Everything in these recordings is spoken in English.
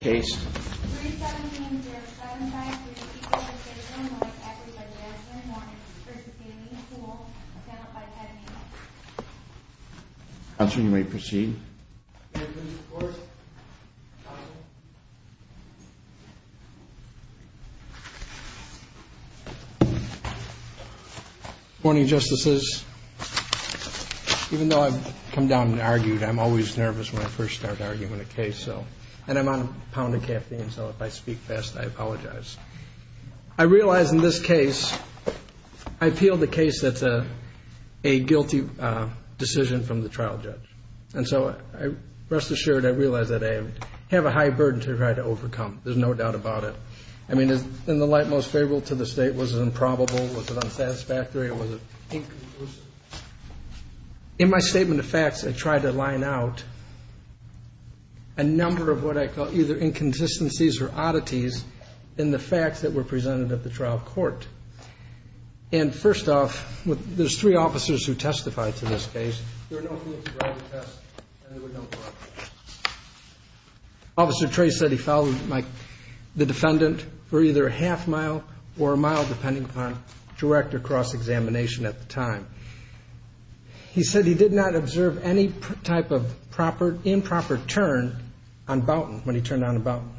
case. That's when we proceed. Morning, justices. Even though I've come down and argued, I'm always nervous when I first start arguing a case. So and I'm a pound of caffeine, so if I speak fast, I apologize. I realize in this case, I appeal the case that's a guilty decision from the trial judge. And so rest assured, I realize that I have a high burden to try to overcome. There's no doubt about it. I mean, in the light most favorable to the state, was it improbable? Was it unsatisfactory? Was it inconclusive? In my statement of facts, I tried to line out a number of what I call either inconsistencies or oddities in the facts that were presented at the trial court. And first off, there's three officers who testified to this case. There are no. Officer Trey said he followed the defendant for either a half mile or a mile, depending upon direct or cross-examination at the time. He said he did not observe any type of improper turn on Boughton when he turned on Boughton.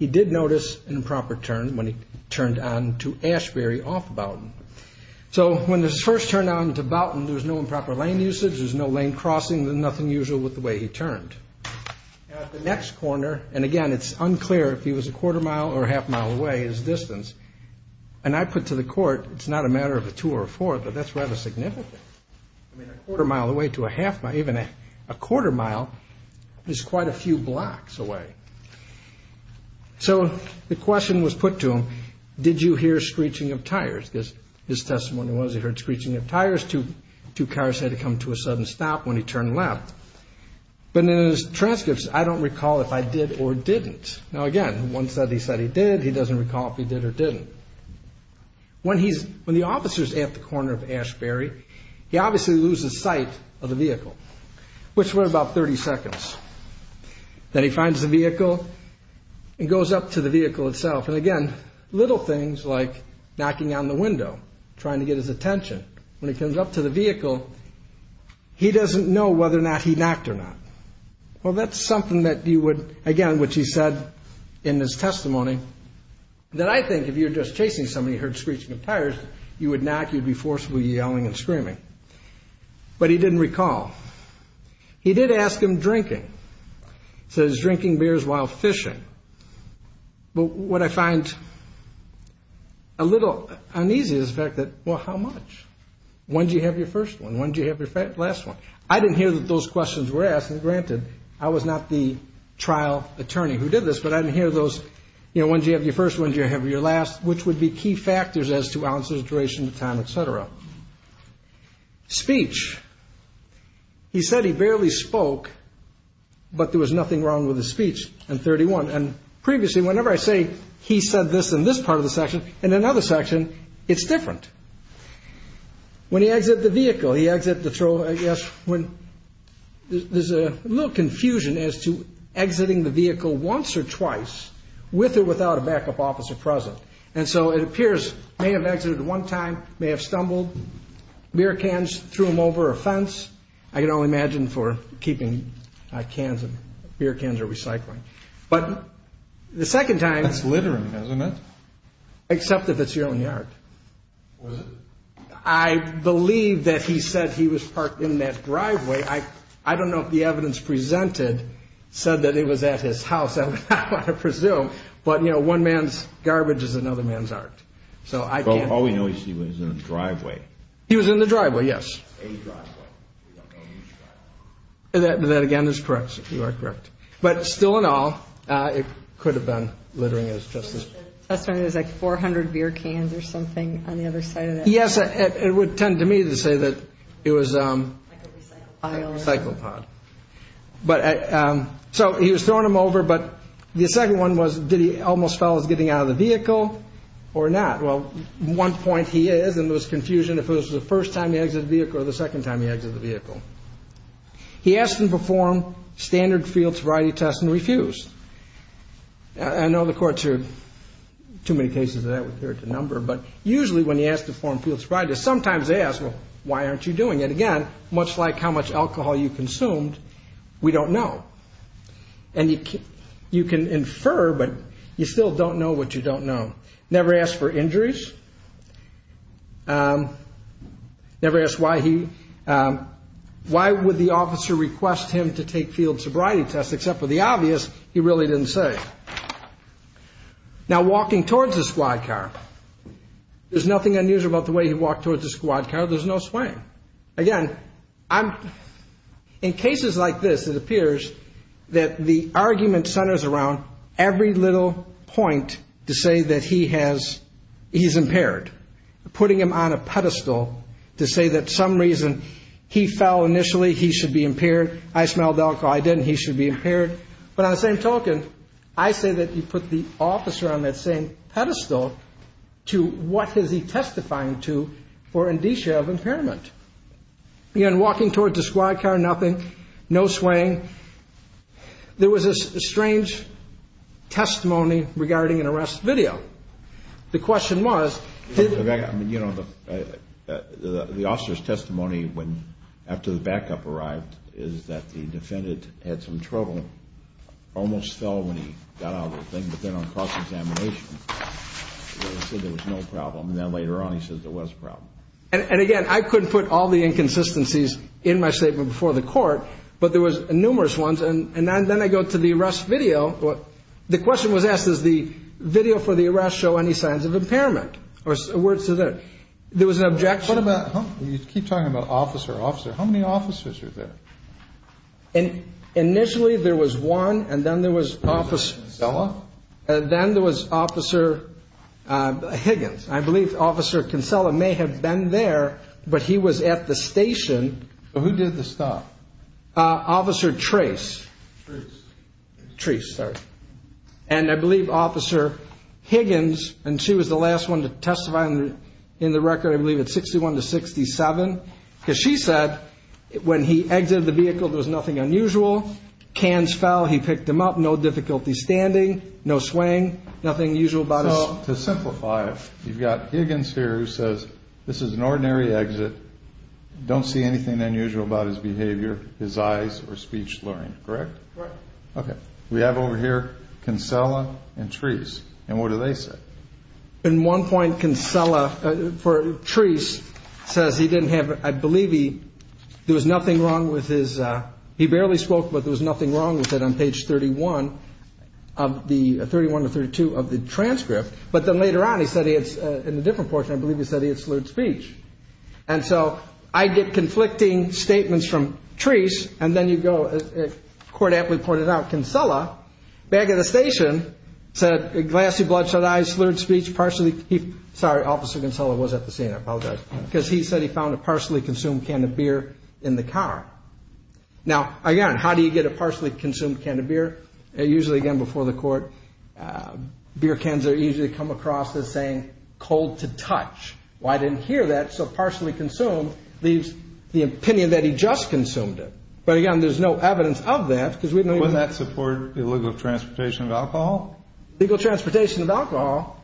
He did notice an improper turn when he turned on to Ashbury off Boughton. So when this first turned on to Boughton, there was no improper lane usage. There's no lane crossing. There's nothing usual with the way he turned. At the next corner, and again, it's unclear if he was a quarter mile or a half mile away, his distance, and I put to the court, it's not a matter of a two or a four, but that's rather significant. I mean, a quarter mile away to a half mile, even a quarter mile is quite a few blocks away. So the question was put to him, did you hear screeching of tires? Because his testimony was he heard screeching of tires. Two cars had to come to a sudden stop when he turned left. But in his transcripts, I don't recall if I did or didn't. Now, again, one said he said he did. He doesn't recall if he did or didn't. When he's when the officer's at the corner of Ashbury, he obviously loses sight of the vehicle, which were about 30 seconds. Then he finds the vehicle and goes up to the vehicle itself. And again, little things like knocking on the window, trying to get his attention when he comes up to the vehicle. He doesn't know whether or not he knocked or not. Well, that's something that you would, again, which he said in his testimony, that I think if you're just chasing somebody who heard screeching of tires, you would knock, you'd be forcibly yelling and screaming. But he didn't recall. He did ask him drinking. He said he was drinking beers while fishing. But what I find a little uneasy is the fact that, well, how much? When did you have your first one? When did you have your last one? I didn't hear that those questions were asked. And granted, I was not the trial attorney who did this, but I didn't hear those, you know, when did you have your first one, when did you have your last, which would be key factors as to ounces, duration, time, etc. Speech. He said he barely spoke, but there was nothing wrong with his speech and 31. And previously, whenever I say he said this in this part of the section and another section, it's different. When he exited the vehicle, he exited the trolley, I guess when there's a little confusion as to exiting the vehicle once or twice with or without a backup officer present. And so it appears may have exited at one time, may have stumbled beer cans, threw them over a fence. I can only imagine for keeping cans of beer cans or recycling. But the second time, that's littering, isn't it? Except if it's your own yard. Was it? I believe that he said he was parked in that driveway. I don't know if the evidence presented said that it was at his house. I presume. But, you know, one man's garbage is another man's art. So I always know he was in the driveway. He was in the driveway. Yes. That again is correct. You are correct. But still, in all, it could have been littering as just as I said, it was like 400 beer cans or something on the other side. Yes, it would tend to me to say that it was like a cycle pod, but so he was throwing them over. But the second one was, did he almost fell as getting out of the vehicle or not? Well, one point he is and there was confusion if it was the first time he exited the vehicle or the second time he exited the vehicle. He asked him to perform standard field sobriety tests and refused. I know the courts are too many cases that would appear to number, but usually when he asked to form field sobriety, sometimes they ask, well, why aren't you doing it again? Much like how much alcohol you consumed? We don't know. And you can infer, but you still don't know what you don't know. Never asked for injuries. Never asked why he why would the officer request him to take field sobriety tests, except for the obvious? He really didn't say. Now, walking towards the squad car, there's nothing unusual about the way he walked towards the squad car. There's no swaying again. I'm in cases like this. It appears that the argument centers around every little point to say that he has he's impaired, putting him on a pedestal to say that some reason he fell initially, he should be impaired. I smelled alcohol. I didn't. He should be impaired. But on the same token, I say that you put the officer on that same pedestal to what has he testifying to for indicia of impairment. Again, walking towards the squad car, nothing, no swaying. There was a strange testimony regarding an arrest video. The question was, you know, the officer's testimony when after the backup arrived is that the defendant had some trouble. Almost fell when he got out of the thing. But then on cross-examination, he said there was no problem. And then later on, he says there was a problem. And again, I couldn't put all the inconsistencies in my statement before the court, but there was numerous ones. And and then I go to the arrest video. Well, the question was asked, is the video for the arrest show any signs of impairment or words to that? There was an objection about you keep talking about officer officer. How many officers are there? And initially there was one. And then there was office. And then there was officer Higgins. I believe officer Kinsella may have been there, but he was at the station. Who did the stop officer trace trees? And I believe officer Higgins. And she was the last one to testify in the record. I believe it's sixty one to sixty seven. She said when he did the vehicle, there's nothing unusual. He picked him up. No difficulty standing. No swing. Nothing usual. But to simplify, you've got Higgins here. This is an ordinary exit. Don't see anything unusual about his behavior. His eyes or speech. OK, we have over here can sell and trees. And what do they say in one point can sell for trees says he didn't have. I believe there was nothing wrong with his. He barely spoke, but there was nothing wrong with it on page 31 of the 31 or 32 of the transcript. But then later on, he said it's in a different portion. I believe he said he had slurred speech. And so I get conflicting statements from trees. And then you go. What happens is if the word app reported out, can sell a bag at the station said a glassy, bloodshot eyes, slurred speech, partially. Sorry. Officer can tell it was at the scene. I apologize. Because he said he found a partially consumed can of beer in the car. Now, again, how do you get a partially consumed can of beer? Usually, again, before the court, beer cans are usually come across as saying cold to touch. Why didn't hear that? So partially consumed leaves the opinion that he just consumed it. But again, there's no evidence of that because we know that support illegal transportation of alcohol, legal transportation of alcohol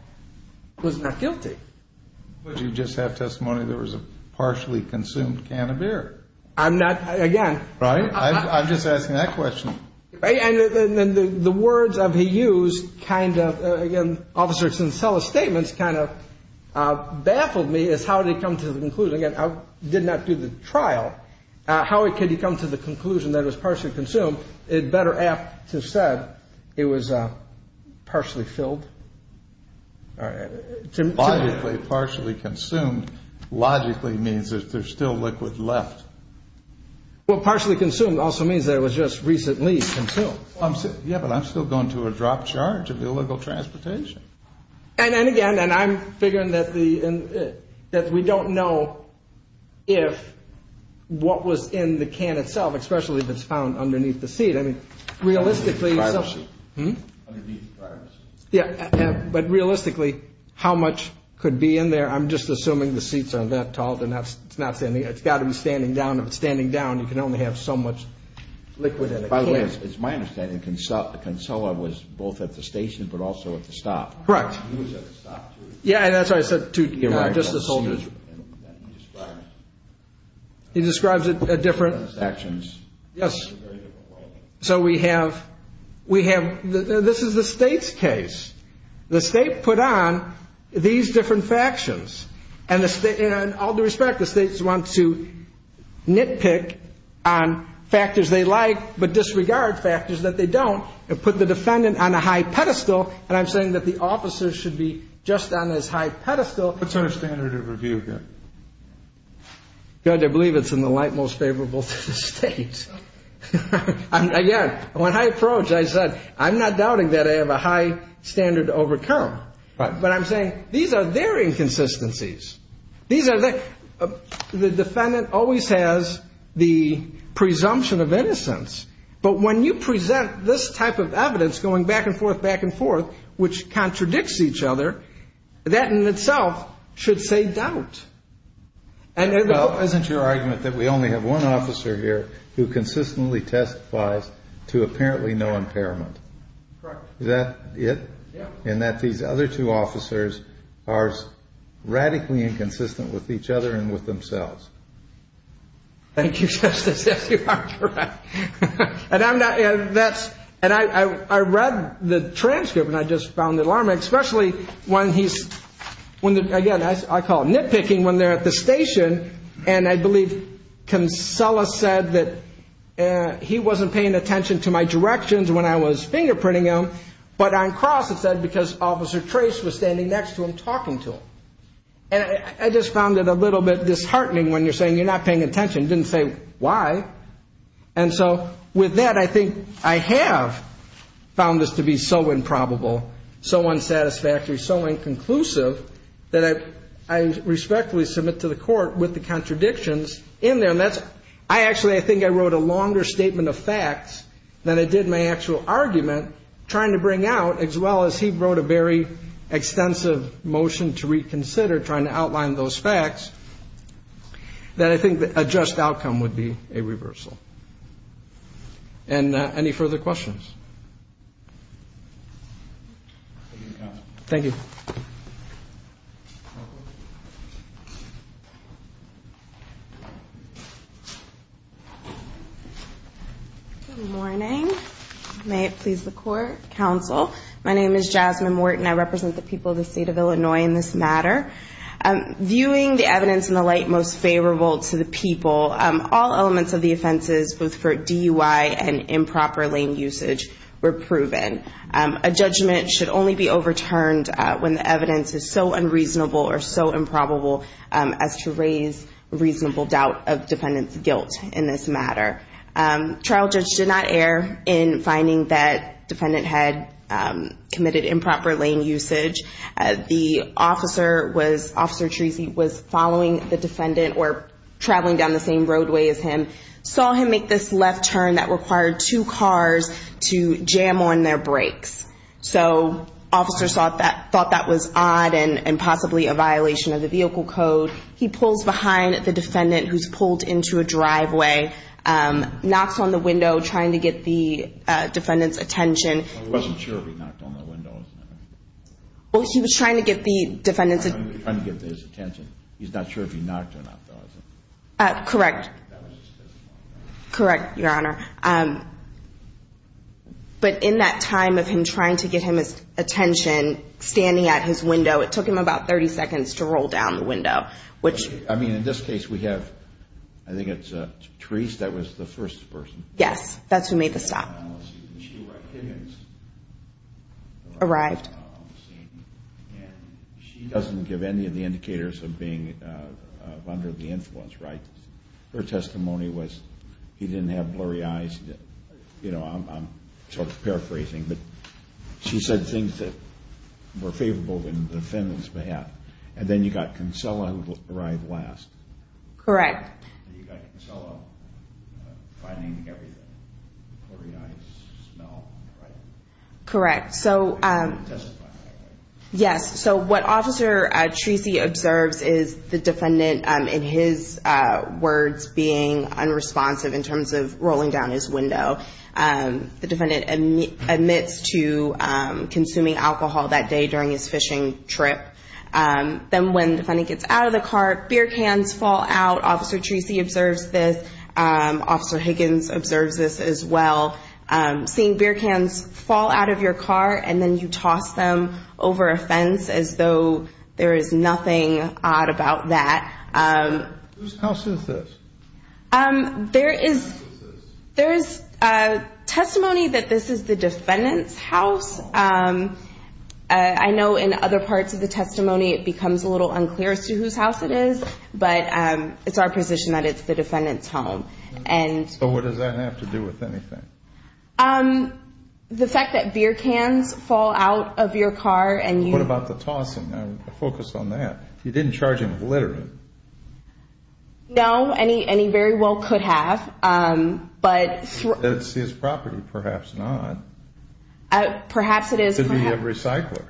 was not guilty. But you just have testimony. There was a partially consumed can of beer. I'm not again. Right. I'm just asking that question. And then the words of he used kind of again, officers and sell statements kind of baffled me is how to come to the conclusion. I did not do the trial. How could you come to the conclusion that was partially consumed? It better have said it was partially filled. Partially consumed logically means that there's still liquid left. Well, partially consumed also means that it was just recently consumed. Yeah, but I'm still going to a drop charge of illegal transportation. And then again, and I'm figuring that the that we don't know if what was in the can itself, especially if it's found underneath the seat. But realistically, how much could be in there? I'm just assuming the seats are that tall. And that's not saying it's got to be standing down. If it's standing down, you can only have so much liquid. And by the way, it's my understanding. And so the console was both at the station, but also at the stop. Correct. Yeah. And that's why I said to just the soldiers. He describes it a different actions. Yes. So we have we have this is the state's case. The state put on these different factions and the state and all the respect the states want to nitpick on factors they like. But disregard factors that they don't put the defendant on a high pedestal. And I'm saying that the officers should be just on this high pedestal standard of review. God, I believe it's in the light most favorable state. And again, when I approach, I said, I'm not doubting that I have a high standard to overcome. But I'm saying these are their inconsistencies. These are the defendant always has the presumption of innocence. But when you present this type of evidence going back and forth, back and forth, which contradicts each other. That in itself should say doubt. And isn't your argument that we only have one officer here who consistently testifies to apparently no impairment? Is that it? And that these other two officers are radically inconsistent with each other and with themselves? Thank you. And I'm not. And I read the transcript and I just found it alarming, especially when he's when, again, I call nitpicking when they're at the station. And I believe Kinsella said that he wasn't paying attention to my directions when I was fingerprinting him. But on cross, it said because Officer Trace was standing next to him talking to him. And I just found it a little bit disheartening when you're saying you're not paying attention, didn't say why. And so with that, I think I have found this to be so improbable, so unsatisfactory, so inconclusive that I respectfully submit to the court with the contradictions in there. And that's I actually I think I wrote a longer statement of facts than I did my actual argument trying to bring out, as well as he wrote a very extensive motion to reconsider trying to outline those facts that I think a just outcome would be a reversal. And any further questions? Thank you. Good morning. May it please the court. Counsel. My name is Jasmine Morton. I represent the people of the state of Illinois in this matter. Viewing the evidence in the light most favorable to the people, all elements of the offenses, both for DUI and improper lane usage, were proven. A judgment should only be overturned when the evidence is so unreasonable or so improbable as to raise reasonable doubt of defendant's guilt in this matter. Trial judge did not err in finding that defendant had committed improper lane usage. The officer was, Officer Treacy, was following the defendant or traveling down the same roadway as him, saw him make this left turn that required two cars to jam on their brakes. So officers thought that was odd and possibly a violation of the vehicle code. He pulls behind the defendant who's pulled into a driveway, knocks on the window trying to get the defendant's attention. He wasn't sure if he knocked on the window or not. Well, he was trying to get the defendant's attention. He was trying to get his attention. He's not sure if he knocked or not, though, is he? Correct. Correct, Your Honor. But in that time of him trying to get his attention, standing at his window, it took him about 30 seconds to roll down the window. I mean, in this case, we have, I think it's Treacy that was the first person. Yes. That's who made the stop. Arrived. She doesn't give any of the indicators of being under the influence, right? Her testimony was he didn't have blurry eyes. You know, I'm sort of paraphrasing, but she said things that were favorable on the defendant's behalf. And then you got Kinsella who arrived last. Correct. You got Kinsella finding everything, blurry eyes, smell, right? Correct. So what Officer Treacy observes is the defendant, in his words, being unresponsive in terms of rolling down his window. The defendant admits to consuming alcohol that day during his fishing trip. Then when the defendant gets out of the car, beer cans fall out. Officer Treacy observes this. Officer Higgins observes this as well. Seeing beer cans fall out of your car and then you toss them over a fence as though there is nothing odd about that. Whose house is this? There is testimony that this is the defendant's house. I know in other parts of the testimony it becomes a little unclear as to whose house it is, but it's our position that it's the defendant's home. So what does that have to do with anything? The fact that beer cans fall out of your car and you – What about the tossing? Focus on that. You didn't charge him with littering. No, and he very well could have, but – That's his property, perhaps not. Perhaps it is. It could be a recycler.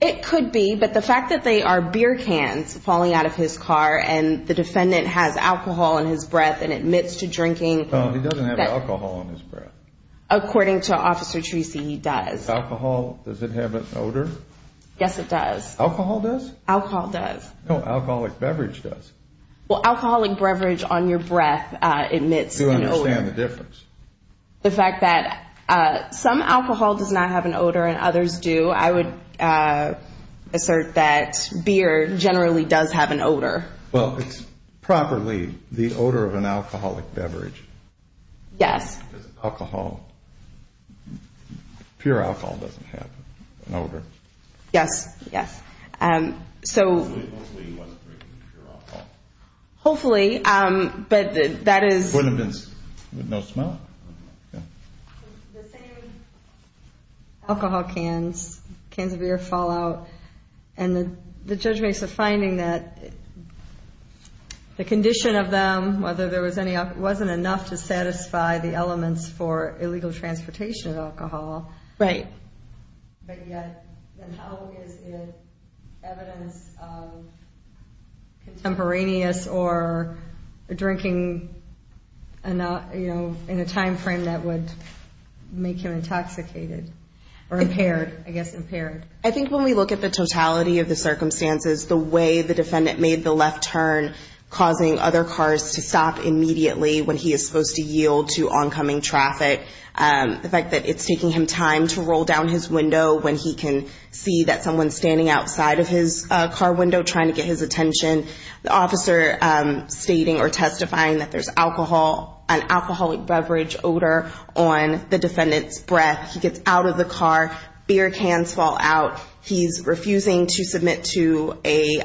It could be, but the fact that they are beer cans falling out of his car and the defendant has alcohol in his breath and admits to drinking – He doesn't have alcohol in his breath. According to Officer Treacy, he does. Alcohol, does it have an odor? Yes, it does. Alcohol does? Alcohol does. No, alcoholic beverage does. Well, alcoholic beverage on your breath admits an odor. Do you understand the difference? The fact that some alcohol does not have an odor and others do, I would assert that beer generally does have an odor. Well, it's properly the odor of an alcoholic beverage. Yes. Because alcohol, pure alcohol doesn't have an odor. Yes, yes. So – Hopefully he wasn't drinking pure alcohol. Hopefully, but that is – No smell? The same alcohol cans, cans of beer fall out, and the judge makes a finding that the condition of them, whether there was any – it wasn't enough to satisfy the elements for illegal transportation of alcohol. Right. But yet, then how is it evidence of contemporaneous or drinking in a timeframe that would make him intoxicated or impaired, I guess impaired? I think when we look at the totality of the circumstances, the way the defendant made the left turn, causing other cars to stop immediately when he is supposed to yield to oncoming traffic, the fact that it's taking him time to roll down his window when he can see that someone's standing outside of his car window trying to get his attention, the officer stating or testifying that there's alcohol, an alcoholic beverage odor on the defendant's breath, he gets out of the car, beer cans fall out, he's refusing to submit to a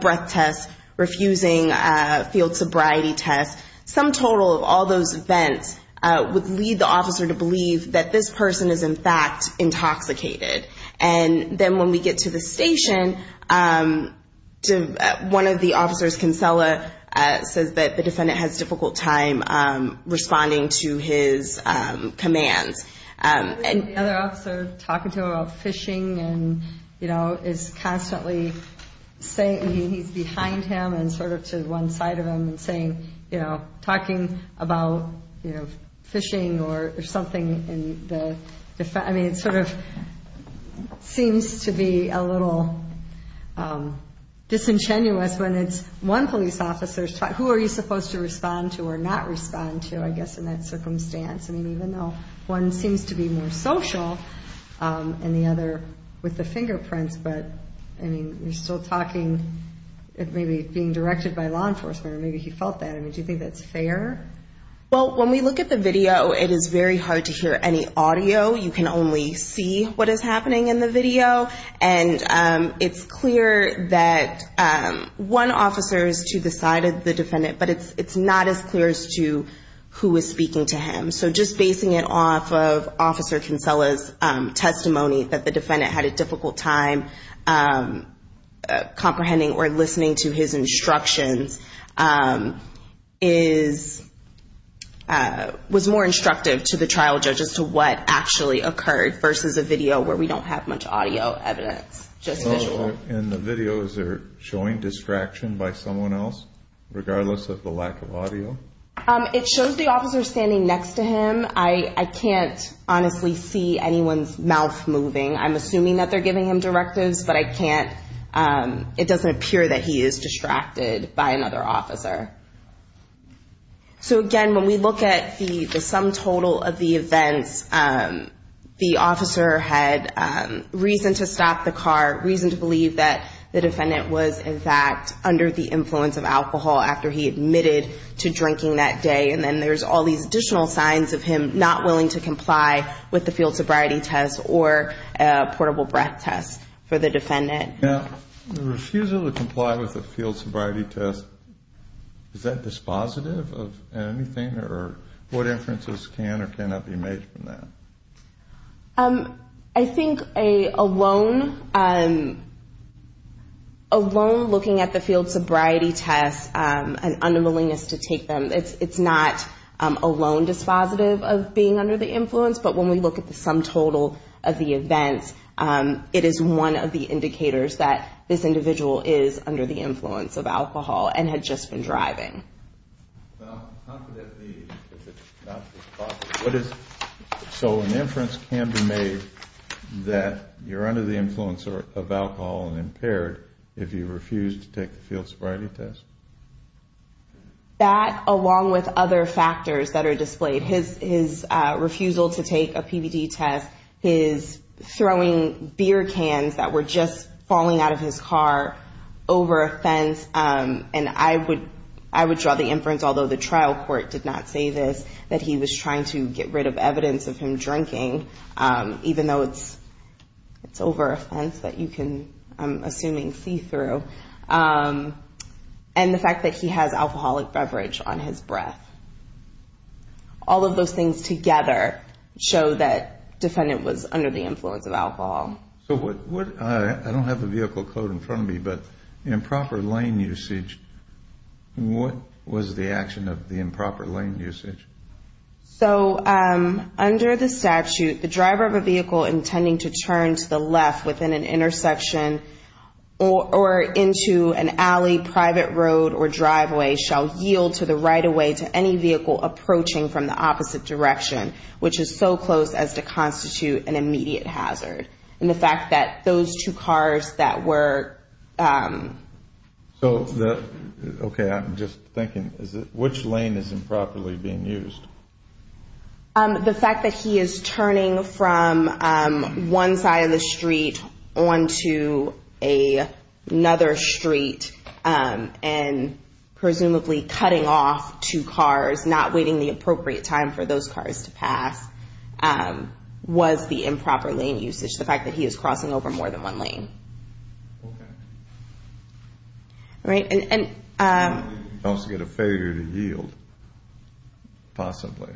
breath test, refusing a field sobriety test. Some total of all those events would lead the officer to believe that this person is, in fact, intoxicated. And then when we get to the station, one of the officers, Kinsella, says that the defendant has difficult time responding to his commands. And the other officer talking to him about fishing and, you know, is constantly saying – and sort of to one side of him and saying, you know, talking about, you know, fishing or something in the – I mean, it sort of seems to be a little disingenuous when it's one police officer's – who are you supposed to respond to or not respond to, I guess, in that circumstance? I mean, even though one seems to be more social and the other with the fingerprints, but, I mean, you're still talking – maybe being directed by law enforcement or maybe he felt that. I mean, do you think that's fair? Well, when we look at the video, it is very hard to hear any audio. You can only see what is happening in the video. And it's clear that one officer is to the side of the defendant, but it's not as clear as to who is speaking to him. So just basing it off of Officer Kinsella's testimony that the defendant had a difficult time comprehending or listening to his instructions is – was more instructive to the trial judge as to what actually occurred versus a video where we don't have much audio evidence, just visual. And the video, is there showing distraction by someone else, regardless of the lack of audio? It shows the officer standing next to him. I can't honestly see anyone's mouth moving. I'm assuming that they're giving him directives, but I can't – it doesn't appear that he is distracted by another officer. So, again, when we look at the sum total of the events, the officer had reason to stop the car, reason to believe that the defendant was, in fact, under the influence of alcohol after he admitted to drinking that day, and then there's all these additional signs of him not willing to comply with the field sobriety test or portable breath test for the defendant. Now, the refusal to comply with the field sobriety test, is that dispositive of anything, or what inferences can or cannot be made from that? I think a lone looking at the field sobriety test, an unwillingness to take them, it's not a lone dispositive of being under the influence, but when we look at the sum total of the events, it is one of the indicators that this individual is under the influence of alcohol and had just been driving. Well, how could that be? What is – so an inference can be made that you're under the influence of alcohol and impaired if you refuse to take the field sobriety test? That, along with other factors that are displayed, his refusal to take a PVD test, his throwing beer cans that were just falling out of his car over a fence, and I would draw the inference, although the trial court did not say this, that he was trying to get rid of evidence of him drinking, even though it's over a fence that you can, I'm assuming, see through, and the fact that he has alcoholic beverage on his breath. All of those things together show that defendant was under the influence of alcohol. So what – I don't have the vehicle code in front of me, but improper lane usage, what was the action of the improper lane usage? So under the statute, the driver of a vehicle intending to turn to the left within an intersection or into an alley, private road, or driveway shall yield to the right-of-way to any vehicle approaching from the opposite direction, which is so close as to constitute an immediate hazard. And the fact that those two cars that were – So, okay, I'm just thinking, which lane is improperly being used? The fact that he is turning from one side of the street onto another street and presumably cutting off two cars, not waiting the appropriate time for those cars to pass, was the improper lane usage, the fact that he is crossing over more than one lane. Okay. All right. I also get a failure to yield, possibly.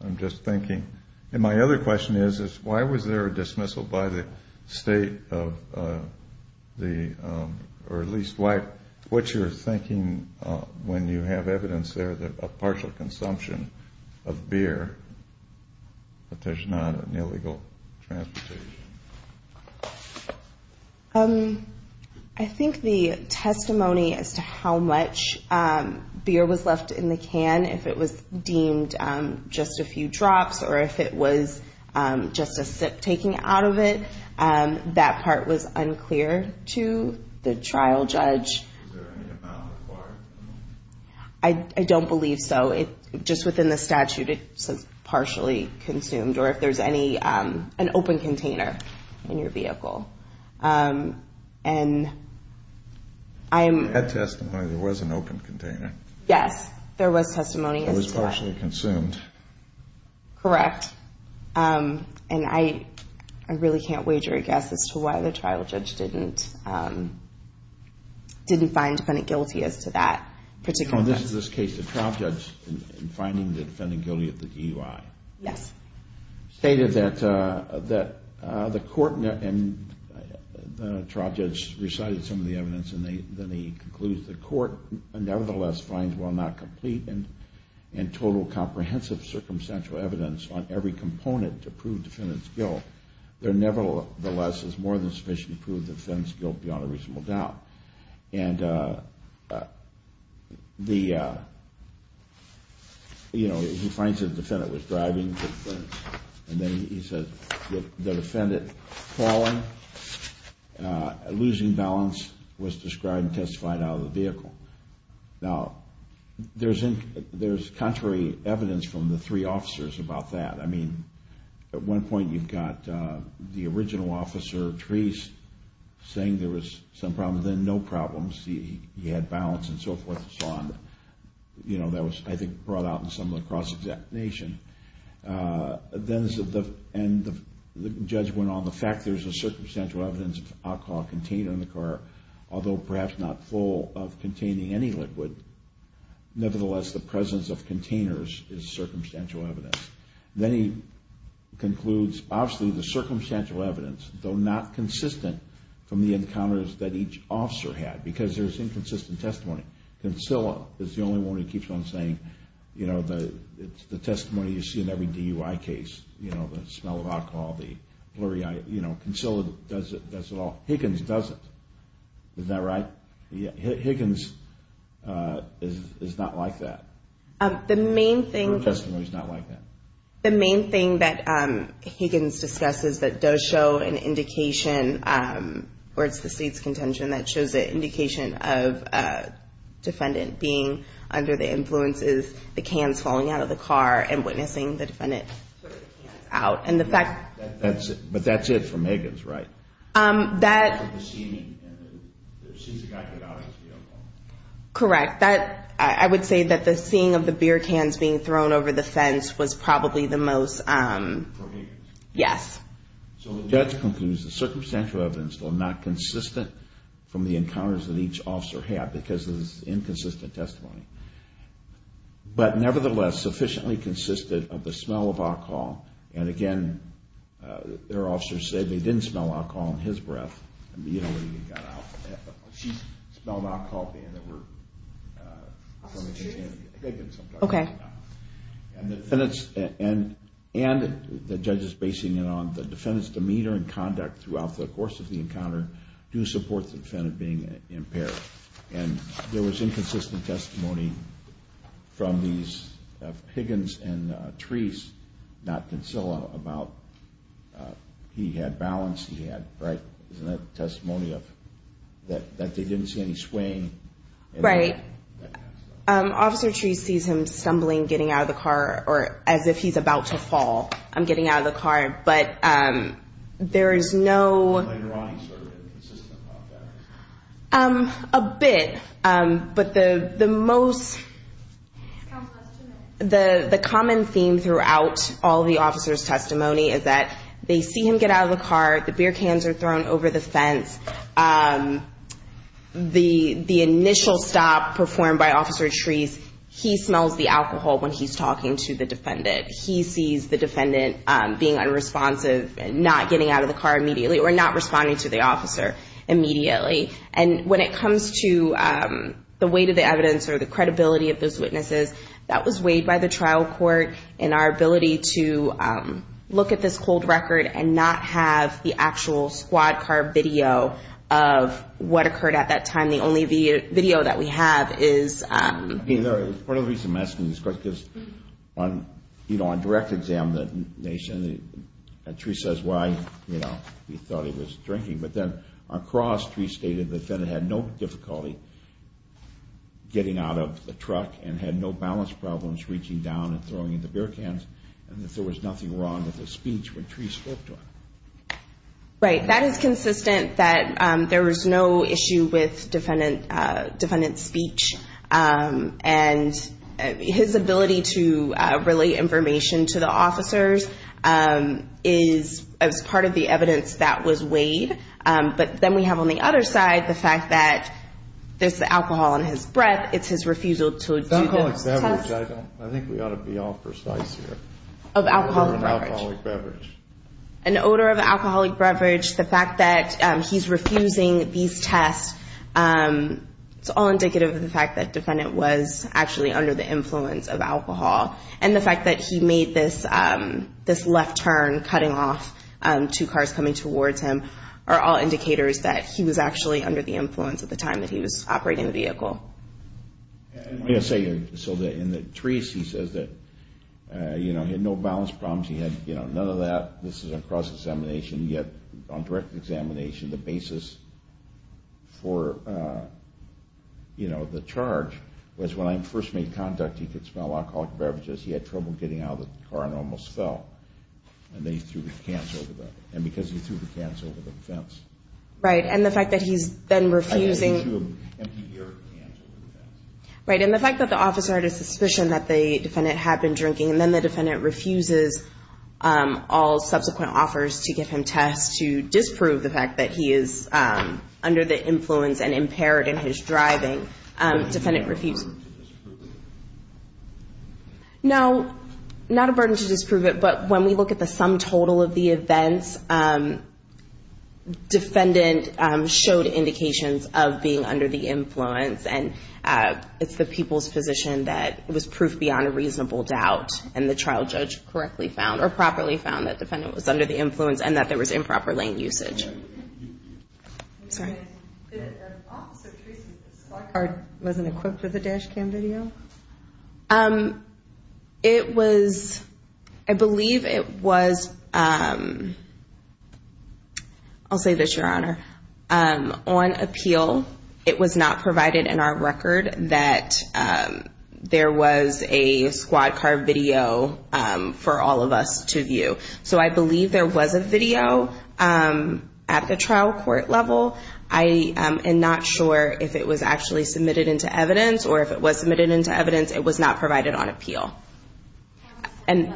I'm just thinking. And my other question is, is why was there a dismissal by the state of the – or at least what you're thinking when you have evidence there of partial consumption of beer, but there's not an illegal transportation? I think the testimony as to how much beer was left in the can, if it was deemed just a few drops or if it was just a sip taken out of it, that part was unclear to the trial judge. Is there any amount required? I don't believe so. Just within the statute, it says partially consumed, or if there's any – an open container in your vehicle. And I'm – That testimony, there was an open container. Yes, there was testimony as to that. It was partially consumed. Correct. And I really can't wager a guess as to why the trial judge didn't find the defendant guilty as to that particular case. So in this case, the trial judge, in finding the defendant guilty at the DUI. Yes. Stated that the court – and the trial judge recited some of the evidence, and then he concludes the court nevertheless finds while not complete and total comprehensive circumstantial evidence on every component to prove defendant's guilt, there nevertheless is more than sufficient to prove the defendant's guilt beyond a reasonable doubt. And the – you know, he finds that the defendant was driving, and then he says the defendant falling, losing balance, was described and testified out of the vehicle. Now, there's contrary evidence from the three officers about that. I mean, at one point, you've got the original officer, Therese, saying there was some problems. Then no problems. He had balance and so forth and so on. You know, that was, I think, brought out in some of the cross-examination. Then the judge went on the fact there's a circumstantial evidence of alcohol container in the car, although perhaps not full of containing any liquid. Nevertheless, the presence of containers is circumstantial evidence. Then he concludes, obviously, the circumstantial evidence, though not consistent from the encounters that each officer had, because there's inconsistent testimony. Kinsella is the only one who keeps on saying, you know, the testimony you see in every DUI case, you know, the smell of alcohol, the blurry eye. You know, Kinsella does it, does it all. Higgins doesn't. Is that right? Higgins is not like that. Her testimony is not like that. The main thing that Higgins discusses that does show an indication, or it's the state's contention that shows an indication of a defendant being under the influence is the cans falling out of the car and witnessing the defendant put the cans out. But that's it for Higgins, right? Correct. I would say that the seeing of the beer cans being thrown over the fence was probably the most. For Higgins? Yes. So the judge concludes that circumstantial evidence, though not consistent from the encounters that each officer had, because there's inconsistent testimony, but nevertheless sufficiently consistent of the smell of alcohol. And again, their officer said they didn't smell alcohol in his breath. You know, when he got out. She smelled alcohol in the room. Okay. And the judge is basing it on the defendant's demeanor and conduct throughout the course of the encounter to support the defendant being impaired. And there was inconsistent testimony from these Higgins and Treece, not Kinsilla, about he had balance, he had, right? Isn't that testimony that they didn't see any swaying? Right. Officer Treece sees him stumbling, getting out of the car, or as if he's about to fall. I'm getting out of the car. But there is no. A bit. But the most. The common theme throughout all the officer's testimony is that they see him get out of the car, the beer cans are thrown over the fence. The initial stop performed by Officer Treece, he smells the alcohol when he's talking to the defendant. He sees the defendant being unresponsive and not getting out of the car immediately or not responding to the officer immediately. And when it comes to the weight of the evidence or the credibility of those witnesses, that was weighed by the trial court in our ability to look at this cold record and not have the actual squad car video of what occurred at that time. The only video that we have is. Part of the reason I'm asking this question is because on direct examination, Treece says why he thought he was drinking. But then across, Treece stated the defendant had no difficulty getting out of the truck and had no balance problems reaching down and throwing the beer cans and that there was nothing wrong with his speech when Treece spoke to him. Right. That is consistent that there was no issue with defendant's speech. And his ability to relate information to the officers is as part of the evidence that was weighed. But then we have on the other side the fact that there's the alcohol in his breath. It's his refusal to do the test. I think we ought to be all precise here. Of alcoholic beverage. An odor of alcoholic beverage. The fact that he's refusing these tests, it's all indicative of the fact that defendant was actually under the influence of alcohol. And the fact that he made this left turn cutting off two cars coming towards him are all indicators that he was actually under the influence at the time that he was operating the vehicle. So in the Treece, he says that he had no balance problems. He had none of that. This is a cross-examination. Yet on direct examination, the basis for the charge was when I first made contact, he could smell alcoholic beverages. He had trouble getting out of the car and almost fell. And then he threw the cans over the fence. Right. And the fact that he's been refusing. Right. And the fact that the officer had a suspicion that the defendant had been drinking and then the defendant refuses all subsequent offers to give him tests to disprove the fact that he is under the influence and impaired in his driving. Defendant refused. No. Not a burden to disprove it, but when we look at the sum total of the events, defendant showed indications of being under the influence and it's the people's position that it was proof beyond a reasonable doubt and the trial judge correctly found or properly found that the defendant was under the influence and that there was improper lane usage. Sorry. The officer Treece's car wasn't equipped with a dash cam video? It was, I believe it was, I'll say this, Your Honor. On appeal, it was not provided in our record that there was a squad car video for all of us to view. So I believe there was a video at the trial court level. I am not sure if it was actually submitted into evidence or if it was submitted into evidence, it was not provided on appeal. And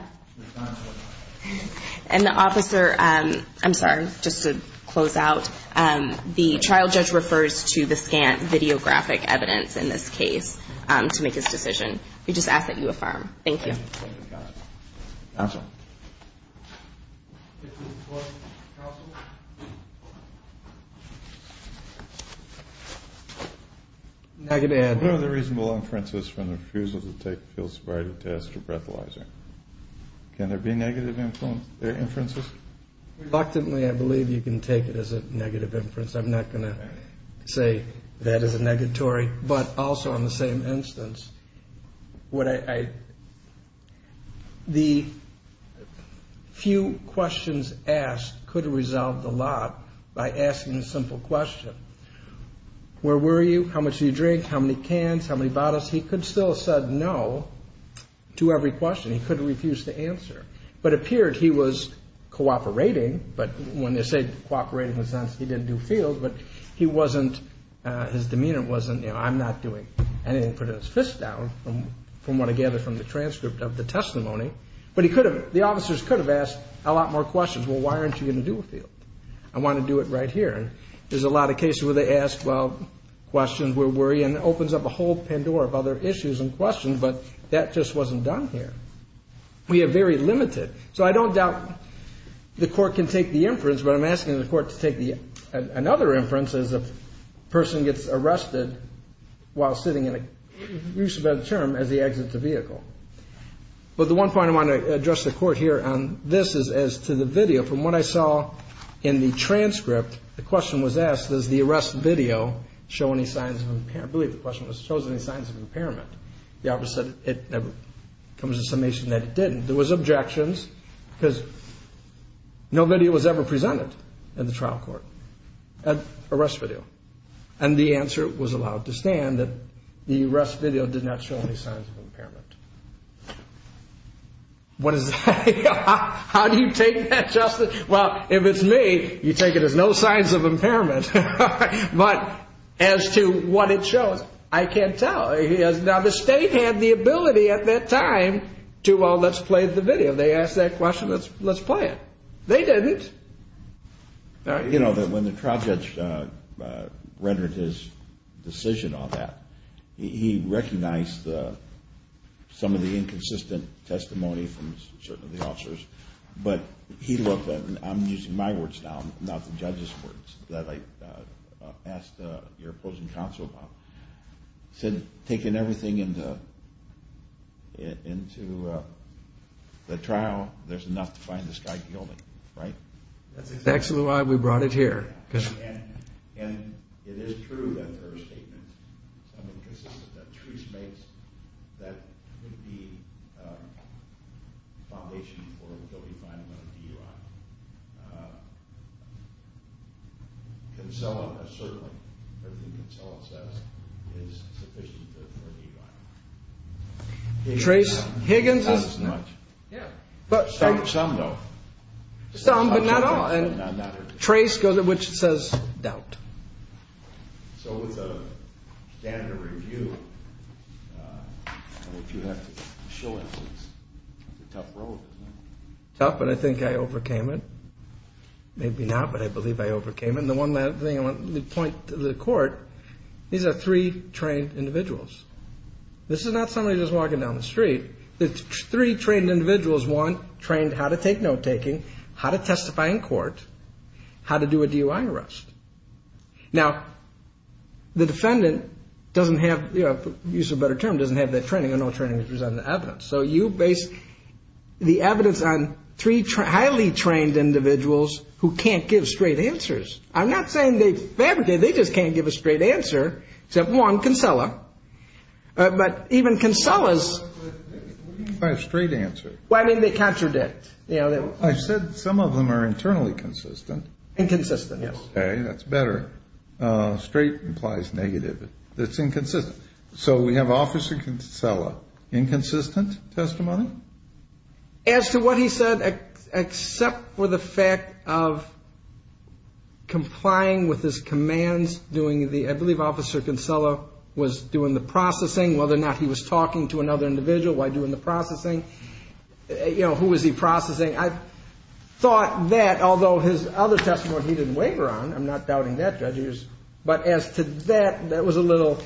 the officer, I'm sorry, just to close out, the trial judge refers to the scant videographic evidence in this case to make his decision. We just ask that you affirm. Thank you. Counsel. Negative. What are the reasonable inferences from the refusal to take a field sobriety test or breathalyzer? Can there be negative inferences? Reluctantly, I believe you can take it as a negative inference. I'm not going to say that is a negatory. But also in the same instance, the few questions asked could have resolved a lot by asking a simple question. Where were you? How much did you drink? How many cans? How many bottles? He could still have said no to every question. He could have refused to answer. But it appeared he was cooperating. But when they say cooperating in the sense he didn't do field, but he wasn't, his demeanor wasn't, you know, I'm not doing anything. He put his fist down from what I gathered from the transcript of the testimony. But he could have, the officers could have asked a lot more questions. Well, why aren't you going to do a field? I want to do it right here. And there's a lot of cases where they ask, well, questions, where were you, and it opens up a whole Pandora of other issues and questions. But that just wasn't done here. We are very limited. So I don't doubt the court can take the inference, but I'm asking the court to take another inference as a person gets arrested while sitting in a use of that term as they exit the vehicle. But the one point I want to address the court here on this is as to the video. From what I saw in the transcript, the question was asked, does the arrest video show any signs of impairment? I believe the question was, shows any signs of impairment. The officer said it comes to summation that it didn't. There was objections because no video was ever presented in the trial court, an arrest video. And the answer was allowed to stand, that the arrest video did not show any signs of impairment. What is that? How do you take that, Justice? Well, if it's me, you take it as no signs of impairment. But as to what it shows, I can't tell. Now, the state had the ability at that time to, well, let's play the video. They asked that question, let's play it. They didn't. You know, when the trial judge rendered his decision on that, he recognized some of the inconsistent testimony from certain of the officers. But he looked at it, and I'm using my words now, not the judge's words, that I asked your opposing counsel about. He said, taking everything into the trial, there's enough to find this guy guilty, right? That's exactly why we brought it here. And it is true that there are statements, something consistent that Therese makes, that would be foundation for a guilty fine under DUI. And so, certainly, everything Consuelo says is sufficient for a DUI. Trace Higgins is not. Some, though. Some, but not all. And Trace, which says doubt. So with a standard review, you have to show it. It's a tough road, isn't it? Tough, but I think I overcame it. Maybe not, but I believe I overcame it. And the one last thing I want to point to the court, these are three trained individuals. This is not somebody just walking down the street. It's three trained individuals, one trained how to take note-taking, how to testify in court, how to do a DUI arrest. Now, the defendant doesn't have, to use a better term, doesn't have that training or no training to present the evidence. So you base the evidence on three highly trained individuals who can't give straight answers. I'm not saying they fabricate. They just can't give a straight answer except one, Consuelo. But even Consuelo's. What do you mean by a straight answer? Well, I mean they contradict. I said some of them are internally consistent. Inconsistent, yes. Okay, that's better. Straight implies negative. It's inconsistent. So we have Officer Kinsella, inconsistent testimony? As to what he said, except for the fact of complying with his commands, I believe Officer Kinsella was doing the processing, whether or not he was talking to another individual while doing the processing. You know, who was he processing? I thought that, although his other testimony he didn't waver on. I'm not doubting that, judges. But as to that, that was a little,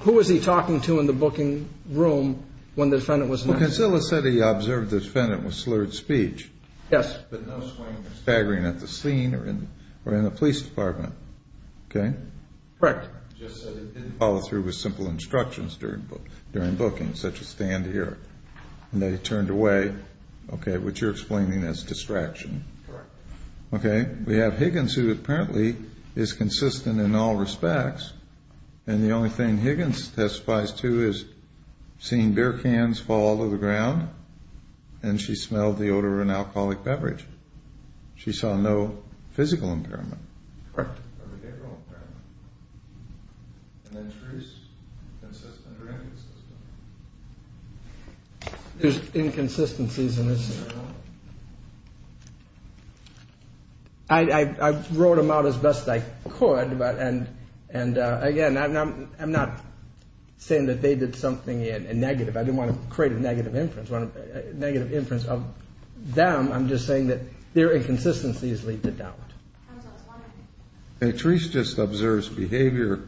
who was he talking to in the booking room when the defendant was not? Well, Kinsella said he observed the defendant with slurred speech. Yes. But no swing or staggering at the scene or in the police department. Okay? Correct. Just said he didn't follow through with simple instructions during booking, such as stand here. And then he turned away, okay, which you're explaining as distraction. Correct. Okay. We have Higgins, who apparently is consistent in all respects. And the only thing Higgins testifies to is seeing beer cans fall to the ground, and she smelled the odor of an alcoholic beverage. She saw no physical impairment. Correct. Or behavioral impairment. And then Truist, consistent or inconsistent? There's inconsistencies in his testimony. I wrote them out as best I could. And, again, I'm not saying that they did something negative. I didn't want to create a negative inference of them. I'm just saying that their inconsistencies lead to doubt. Okay. Truist just observes behavior,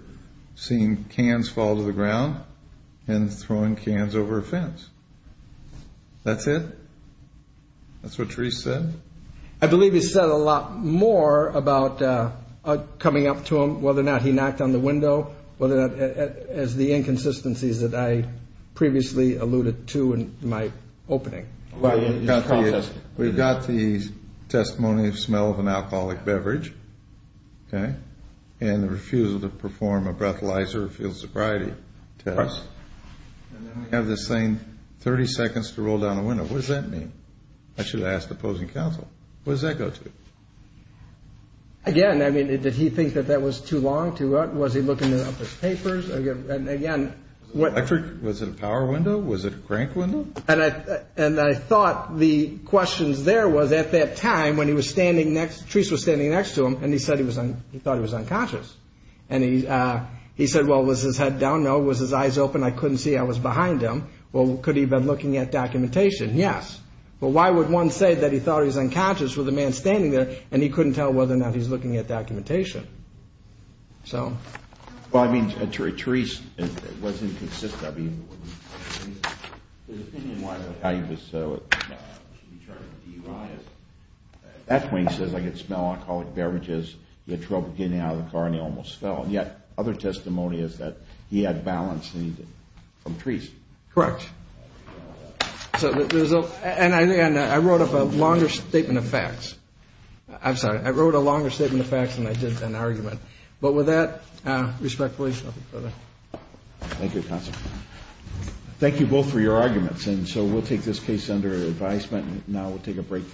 seeing cans fall to the ground and throwing cans over a fence. That's it? That's what Truist said? I believe he said a lot more about coming up to him, whether or not he knocked on the window, as the inconsistencies that I previously alluded to in my opening. We've got the testimony of smell of an alcoholic beverage, okay, and the refusal to perform a breathalyzer or field sobriety test. Correct. And then we have this thing, 30 seconds to roll down a window. What does that mean? I should have asked the opposing counsel. What does that go to? Again, I mean, did he think that that was too long? Was he looking up his papers? And, again, what – Was it a power window? Was it a crank window? And I thought the questions there was, at that time, when he was standing next – Truist was standing next to him, and he said he thought he was unconscious. And he said, well, was his head down? No. Was his eyes open? I couldn't see. I was behind him. Well, could he have been looking at documentation? Yes. Well, why would one say that he thought he was unconscious with a man standing there and he couldn't tell whether or not he was looking at documentation? So. Well, I mean, Truist wasn't consistent. I mean, his opinion was how he was – should be charged with DUI. At that point, he says, I could smell alcoholic beverages. He had trouble getting out of the car, and he almost fell. And yet, other testimony is that he had balance from Truist. Correct. So the result – And I wrote up a longer statement of facts. I'm sorry. I wrote a longer statement of facts than I did an argument. But with that, respectfully, I'll leave it there. Thank you, Counsel. Thank you both for your arguments. And so we'll take this case under advisement. Now we'll take a break.